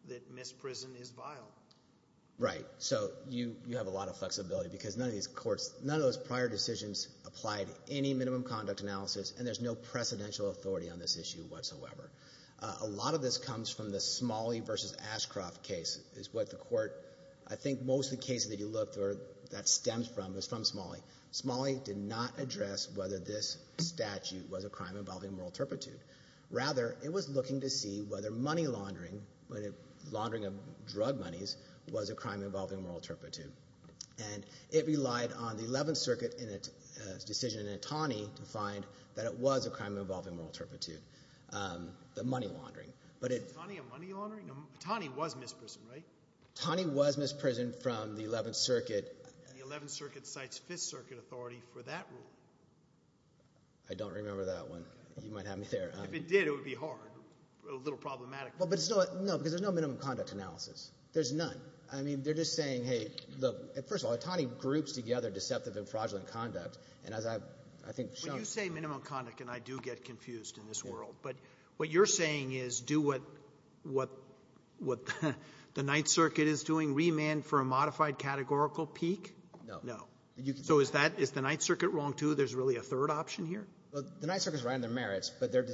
that misprison is vile. Right. So you have a lot of flexibility, because none of these courts, none of those prior decisions applied any minimum conduct analysis, and there's no precedential authority on this issue whatsoever. A lot of this comes from the Ashcroft case, is what the court, I think most of the cases that you looked, that stems from, is from Smalley. Smalley did not address whether this statute was a crime involving moral turpitude. Rather, it was looking to see whether money laundering, laundering of drug monies, was a crime involving moral turpitude. And it relied on the Eleventh Circuit decision in Itani to find that it was a crime involving moral turpitude, the money laundering. Is Itani a money laundering? Itani was misprisoned, right? Itani was misprisoned from the Eleventh Circuit. The Eleventh Circuit cites Fifth Circuit authority for that rule. I don't remember that one. You might have me there. If it did, it would be hard, a little problematic. Well, but it's not, no, because there's no minimum conduct analysis. There's none. I mean, they're just saying, hey, look, first of all, Itani groups together deceptive and fraudulent conduct, and as I, I think Sean... When you say minimum conduct, and I do get confused in this world, but what you're saying is do what, what, what the Ninth Circuit is doing, remand for a modified categorical peak? No. No. So is that, is the Ninth Circuit wrong too? There's really a third option here? Well, the Ninth Circuit's right on their merits, but their,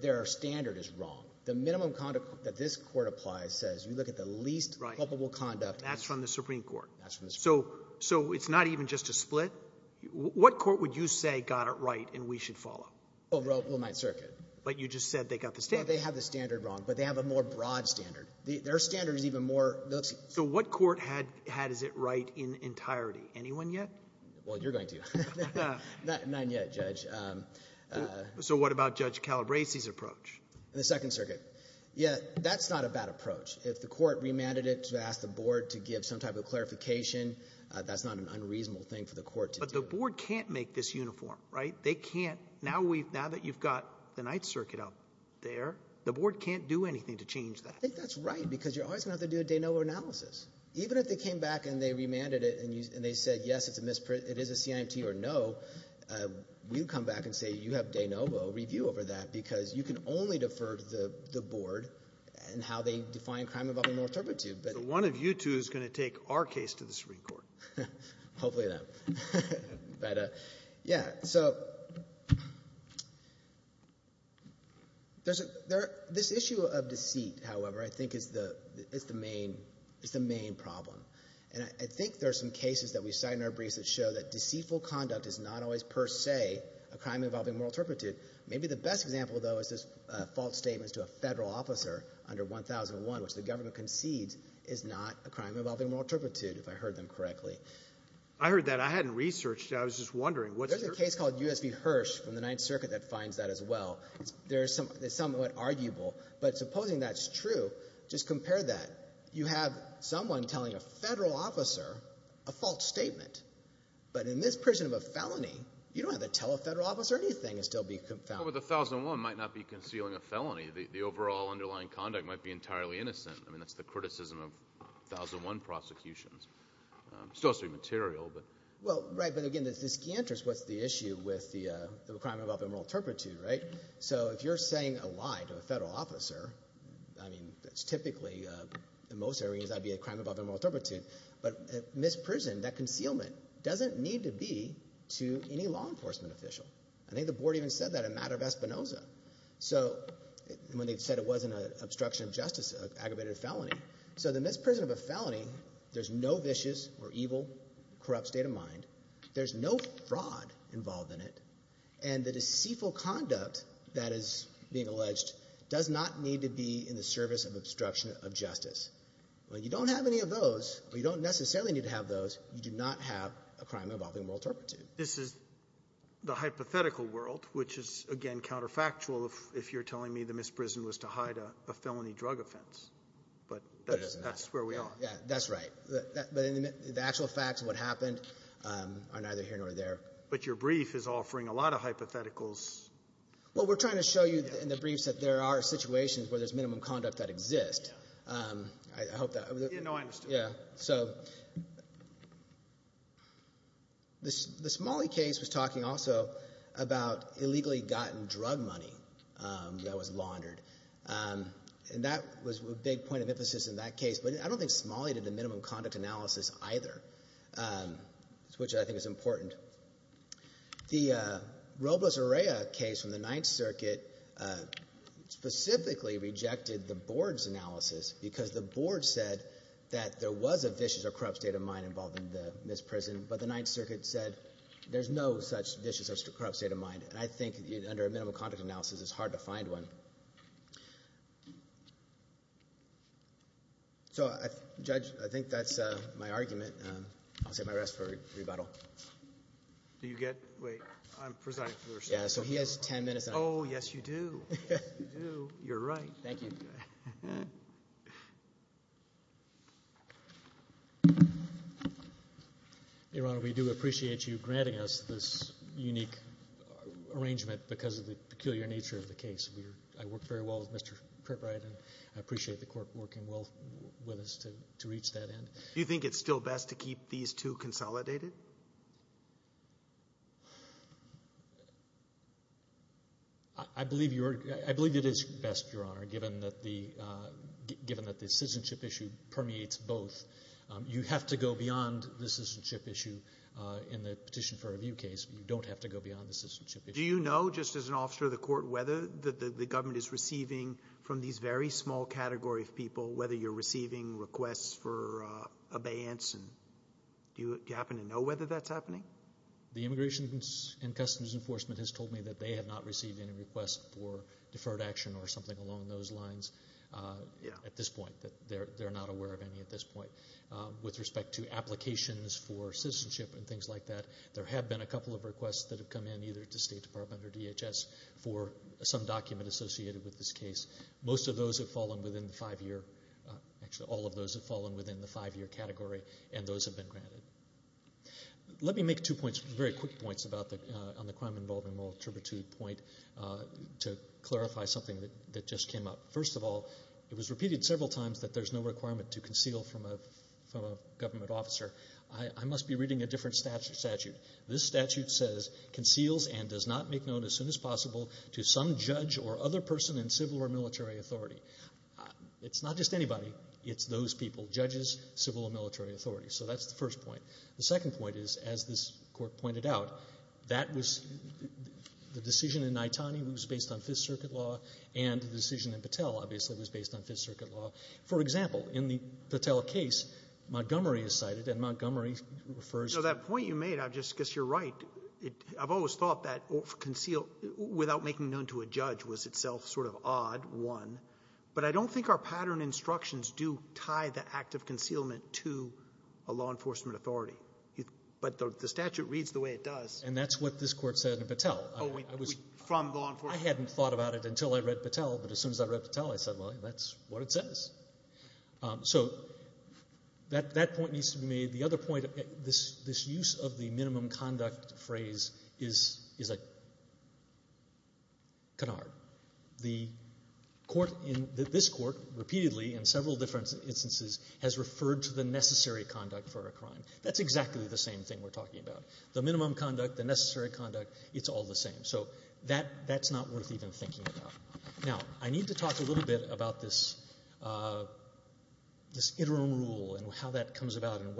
their standard is wrong. The minimum conduct that this court applies says, you look at the least culpable conduct... That's from the Supreme Court. That's from the Supreme Court. So, so it's not even just a split. What court would you say got it right and we should follow? Well, Ninth Circuit. But you just said they got the standard. They have the standard wrong, but they have a more broad standard. Their standard is even more... So what court had, had is it right in entirety? Anyone yet? Well, you're going to. None yet, Judge. So what about Judge Calabresi's approach? The Second Circuit. Yeah, that's not a bad approach. If the court remanded it to ask the board to give some type of clarification, that's not an unreasonable thing for the court. But the board can't make this uniform, right? They can't. Now we've, now that you've the Ninth Circuit up there, the board can't do anything to change that. I think that's right because you're always going to have to do a de novo analysis. Even if they came back and they remanded it and they said, yes, it's a misprint, it is a CIMT or no, we'd come back and say, you have de novo review over that because you can only defer to the board and how they define crime involving more interpretive. But one of you two is going to take our case to the Supreme Court. Hopefully them. But yeah, so there's a, there, this issue of deceit, however, I think is the, it's the main, it's the main problem. And I think there are some cases that we cite in our briefs that show that deceitful conduct is not always per se a crime involving moral turpitude. Maybe the best example, though, is this false statement to a federal officer under 1001, which the government concedes is not a crime involving moral turpitude, if I heard them correctly. I heard that. I hadn't researched it. I was just wondering. There's a case called U.S. v. Hirsch from the Ninth Circuit that finds that as well. There's some, it's somewhat arguable. But supposing that's true, just compare that. You have someone telling a federal officer a false statement. But in this prison of a felony, you don't have to tell a federal officer anything and still be found. But the 1001 might not be concealing a felony. The overall underlying conduct might be entirely innocent. I mean, that's the criticism of 1001 prosecutions. Still, it's not material, but. Well, right. But again, the key interest, what's the issue with the crime involving moral turpitude, right? So if you're saying a lie to a federal officer, I mean, that's typically, in most areas, that'd be a crime involving moral turpitude. But in this prison, that concealment doesn't need to be to any law enforcement official. I think the board even said that in matter of Espinoza. So when they said it wasn't an obstruction of justice, an aggravated felony. So in this prison of a felony, there's no vicious or evil, corrupt state of mind. There's no fraud involved in it. And the deceitful conduct that is being alleged does not need to be in the service of obstruction of justice. Well, you don't have any of those, or you don't necessarily need to have those. You do not have a crime involving moral turpitude. This is the hypothetical world, which is, again, counterfactual if you're telling me the misprison was to hide a felony drug offense. But that's where we are. Yeah, that's right. But the actual facts of what happened are neither here nor there. But your brief is offering a lot of hypotheticals. Well, we're trying to show you in the briefs that there are situations where there's minimum conduct that exists. I hope that... Yeah, no, I understand. Yeah. So the Smalley case was talking also about illegally gotten drug money that was laundered. And that was a big point of emphasis in that case. But I don't think Smalley did the minimum conduct analysis either, which I think is important. The Robles-Urrea case from the Ninth Circuit specifically rejected the board's analysis because the board said that there was a vicious or corrupt state of mind involved in this prison, but the Ninth Circuit said there's no such vicious or corrupt state of mind. And I think under a minimum conduct analysis, it's hard to find one. So, Judge, I think that's my argument. I'll take my rest for rebuttal. Do you get... Wait, I'm presiding for the recess. Yeah, so he has 10 minutes. Oh, yes, you do. You do. You're right. Thank you. Your Honor, we do appreciate you granting us this unique arrangement because of the peculiar nature of the case. I worked very well with Mr. Kriprite, and I appreciate the Court working well with us to reach that end. Do you think it's still best to keep these two consolidated? I believe it is best, Your Honor, given that the citizenship issue permeates both. You have to go beyond the citizenship issue in the Petition for Review case. You don't have to go beyond the citizenship issue. Do you know, just as an officer of the Court, whether the government is receiving from these very small category of people, whether you're receiving requests for abeyance? Do you happen to know whether that's happening? The Immigration and Customs Enforcement has told me that they have not received any requests for deferred action or something along those lines at this point, that they're not aware of any at this point. With respect to applications for citizenship and things like that, there have been a couple of requests that have come in, either to State Department or DHS, for some document associated with this case. Most of those have fallen within the five-year, actually all of those have fallen within the five-year category, and those have been granted. Let me make two points, very quick points, on the crime involving moral turpitude point to clarify something that just came up. First of all, it was repeated several times that there's no requirement to conceal from a government officer. I must be reading a different statute. This statute says, conceals and does not make known as soon as possible to some judge or other person in civil or military authority. It's not just anybody. It's those people, judges, civil or military authority. So that's the first point. The second point is, as this Court pointed out, that was the decision in Naitani, who was based on Fifth Circuit law, and the decision in Patel, obviously, was based on Fifth Circuit law. For example, in the Patel case, Montgomery is cited, and Montgomery refers to the you're right, I've always thought that conceal, without making known to a judge, was itself sort of odd, one. But I don't think our pattern instructions do tie the act of concealment to a law enforcement authority. But the statute reads the way it does. And that's what this Court said in Patel. Oh, from law enforcement. I hadn't thought about it until I read Patel, but as soon as I read Patel, I said, well, that's what it says. So that point needs to be made. The other point, this use of the minimum conduct phrase is a canard. The Court, this Court, repeatedly, in several different instances, has referred to the necessary conduct for a crime. That's exactly the same thing we're talking about. The minimum conduct, the necessary conduct, it's all the same. So that's not worth even thinking about. Now, I need to talk a little bit about this interim rule and how that comes about and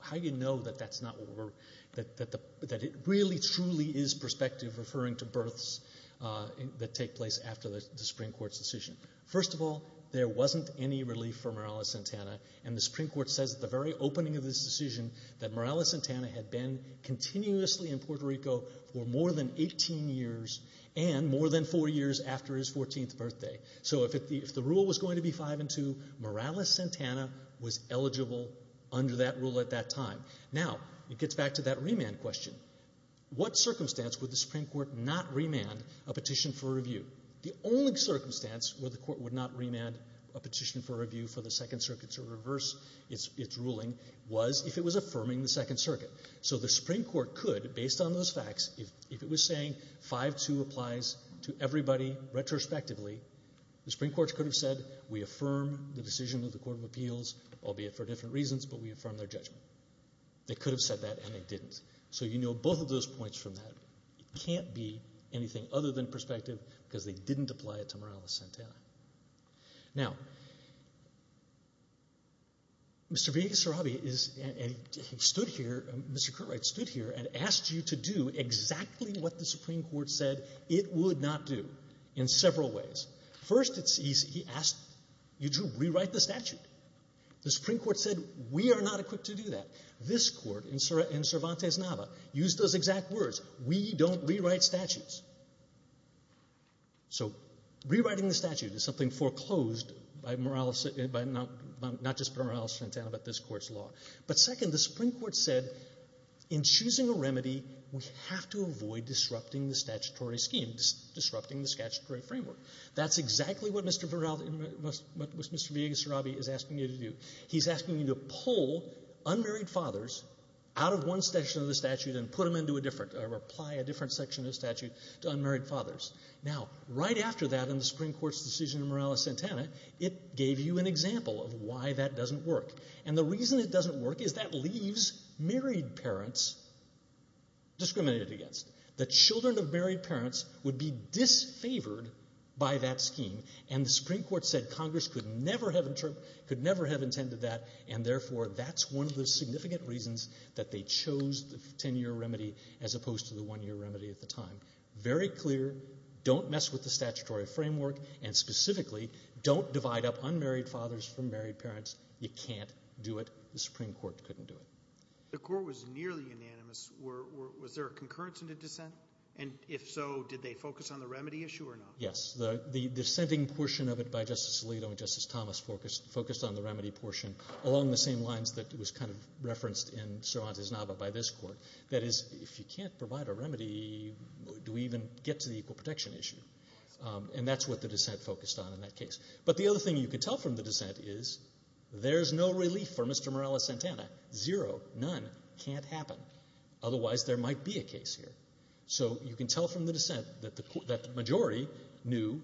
how you know that it really, truly is prospective, referring to births that take place after the Supreme Court's decision. First of all, there wasn't any relief for Morales-Santana. And the Supreme Court says at the very opening of this decision that Morales-Santana had been continuously in Puerto Rico for more than 18 years and more than four years after his 14th birthday. So if the rule was going to be 5-2, Morales-Santana was eligible under that rule at that time. Now, it gets back to that remand question. What circumstance would the Supreme Court not remand a petition for review? The only circumstance where the Court would not remand a petition for review for the Second Circuit to reverse its ruling was if it was affirming the Second Circuit. So the Supreme Court could, based on those facts, if it was saying 5-2 applies to everybody retrospectively, the Supreme Court could have said, we affirm the decision of the Court of Appeals, albeit for different reasons, but we affirm their judgment. They could have said that and they didn't. So you know both of those points from that. It can't be anything other than prospective because they didn't apply it to Morales-Santana. Now, Mr. Vigna-Sarabi stood here, Mr. Curtright stood here and asked you to do exactly what the Supreme Court said it would not do. In several ways. First, he asked you to rewrite the statute. The Supreme Court said, we are not equipped to do that. This Court, in Cervantes-Nava, used those exact words. We don't rewrite statutes. So rewriting the statute is something foreclosed by not just Morales-Santana but this Court's law. But second, the Supreme Court said, in choosing a remedy, we have to avoid disrupting the statutory framework. That's exactly what Mr. Vigna-Sarabi is asking you to do. He's asking you to pull unmarried fathers out of one section of the statute and put them into a different, or apply a different section of the statute to unmarried fathers. Now, right after that in the Supreme Court's decision in Morales-Santana, it gave you an example of why that doesn't work. And the reason it doesn't work is that leaves married parents discriminated against. The children of married parents would be disfavored by that scheme. And the Supreme Court said Congress could never have intended that. And therefore, that's one of the significant reasons that they chose the 10-year remedy as opposed to the one-year remedy at the time. Very clear, don't mess with the statutory framework. And specifically, don't divide up unmarried fathers from married parents. You can't do it. The Supreme Court couldn't do it. The Court was nearly unanimous. Was there a concurrence in the dissent? And if so, did they focus on the remedy issue or not? Yes. The dissenting portion of it by Justice Alito and Justice Thomas focused on the remedy portion along the same lines that was kind of referenced in Sir Hans's Nava by this Court. That is, if you can't provide a remedy, do we even get to the equal protection issue? And that's what the dissent focused on in that case. But the other thing you could tell from the dissent is there's no relief for Mr. None can't happen. Otherwise, there might be a case here. So you can tell from the dissent that the majority knew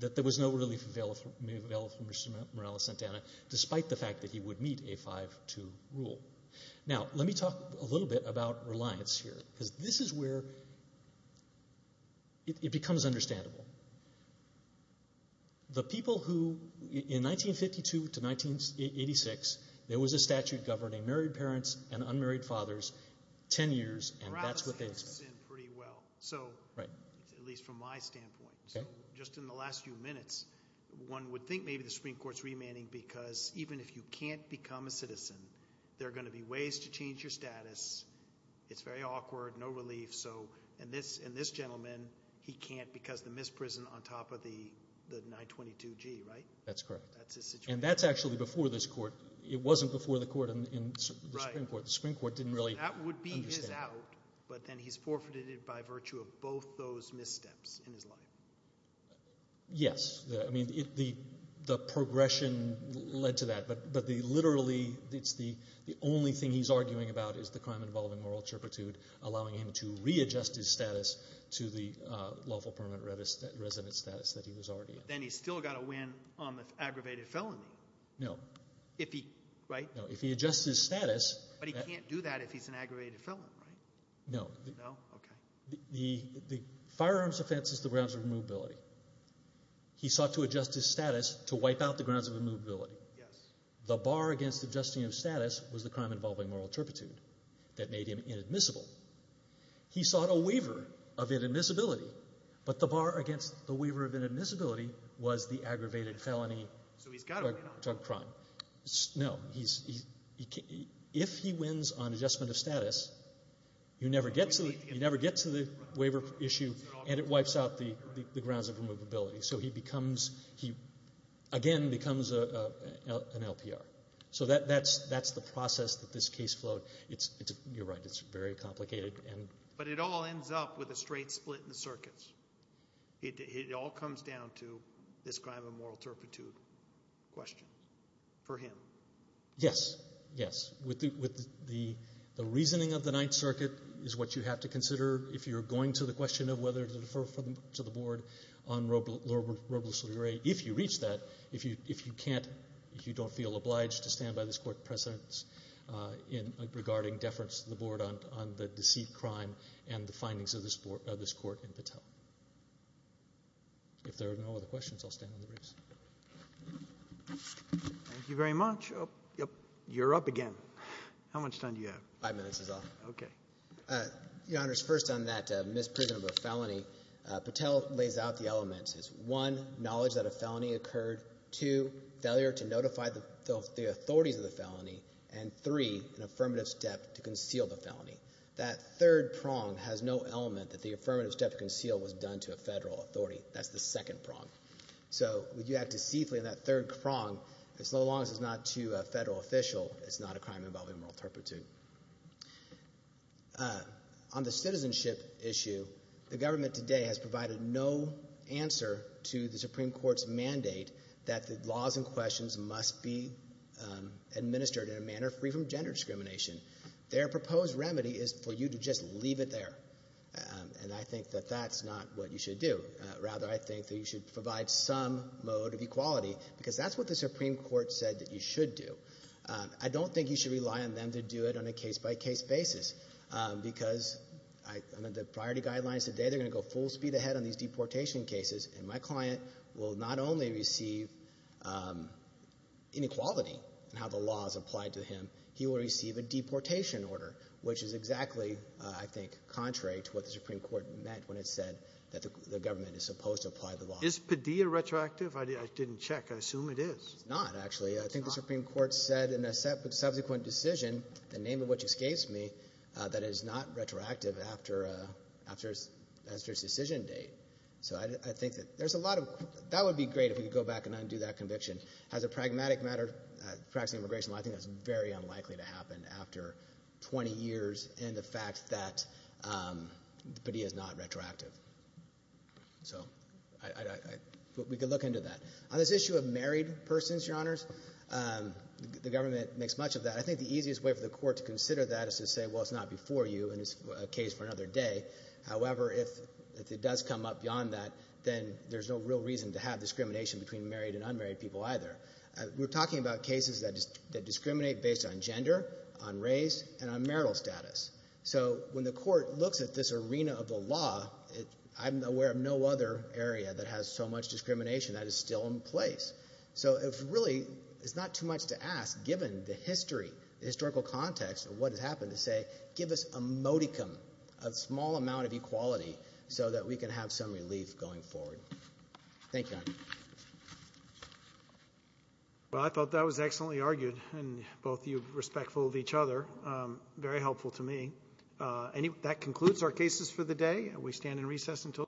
that there was no relief available for Mr. Morales-Santana despite the fact that he would meet a 5-2 rule. Now, let me talk a little bit about reliance here because this is where it becomes understandable. The people who, in 1952 to 1986, there was a statute governing married parents and unmarried fathers 10 years, and that's what they expected. Morales fits in pretty well, at least from my standpoint. So just in the last few minutes, one would think maybe the Supreme Court's remanding because even if you can't become a citizen, there are going to be ways to change your status. It's very awkward, no relief. And this gentleman, he can't because the misprison on top of the 922G, right? That's correct. That's his situation. And that's actually before this court. It wasn't before the Supreme Court. The Supreme Court didn't really understand. That would be his out. But then he's forfeited it by virtue of both those missteps in his life. Yes. I mean, the progression led to that. But literally, it's the only thing he's arguing about is the crime involving moral turpitude, allowing him to readjust his status to the lawful permanent resident status that he was already in. But then he's still got to win on the aggravated felony. No. If he, right? No, if he adjusts his status. But he can't do that if he's an aggravated felon, right? No. No? Okay. The firearms offense is the grounds of immovability. He sought to adjust his status to wipe out the grounds of immovability. Yes. The bar against adjusting his status was the crime involving moral turpitude that made him inadmissible. He sought a waiver of inadmissibility. But the bar against the waiver of inadmissibility was the aggravated felony drug crime. No. If he wins on adjustment of status, you never get to the waiver issue, and it wipes out the grounds of immovability. So he becomes, again, becomes an LPR. So that's the process that this case flowed. You're right, it's very complicated. But it all ends up with a straight split in the circuits. It all comes down to this crime of moral turpitude question for him. Yes. Yes. The reasoning of the Ninth Circuit is what you have to consider if you're going to the question of whether to defer to the board on Robles-Leray. If you reach that, if you can't, if you don't feel obliged to stand by this court's precedents in regarding deference to the board on the deceit crime and the findings of this court in Patel. If there are no other questions, I'll stand on the briefs. Thank you very much. You're up again. How much time do you have? Five minutes is all. Okay. Your Honors, first on that misprision of a felony, Patel lays out the elements. It's one, knowledge that a felony occurred. Two, failure to notify the authorities of the felony. And three, an affirmative step to conceal the felony. That third prong has no element that the affirmative step to conceal was done to a federal authority. That's the second prong. So, would you act deceitfully in that third prong, as long as it's not to a federal official, it's not a crime involving moral turpitude. On the citizenship issue, the government today has provided no answer to the Supreme Court's administered in a manner free from gender discrimination. Their proposed remedy is for you to just leave it there. And I think that that's not what you should do. Rather, I think that you should provide some mode of equality, because that's what the Supreme Court said that you should do. I don't think you should rely on them to do it on a case-by-case basis, because the priority guidelines today, they're going to go full speed ahead on these deportation cases, and my client will not only receive inequality in how the law is applied to him, he will receive a deportation order, which is exactly, I think, contrary to what the Supreme Court meant when it said that the government is supposed to apply the law. Is Padilla retroactive? I didn't check. I assume it is. It's not, actually. I think the Supreme Court said in a subsequent decision, the name of which escapes me, that it is not retroactive after its decision date. So I think that there's a lot of... That would be great if we could go back and undo that conviction. As a pragmatic matter, practicing immigration law, I think that's very unlikely to happen after 20 years and the fact that Padilla is not retroactive. So we could look into that. On this issue of married persons, Your Honors, the government makes much of that. I think the easiest way for the court to consider that is to say, well, it's not before you, and it's a case for another day. However, if it does come up beyond that, then there's no real reason to have discrimination between married and unmarried people either. We're talking about cases that discriminate based on gender, on race, and on marital status. So when the court looks at this arena of the law, I'm aware of no other area that has so much discrimination that is still in place. So it really is not too much to ask, given the history, the historical context of what has happened, to say, give us a modicum, a small amount of equality, so that we can have some relief going forward.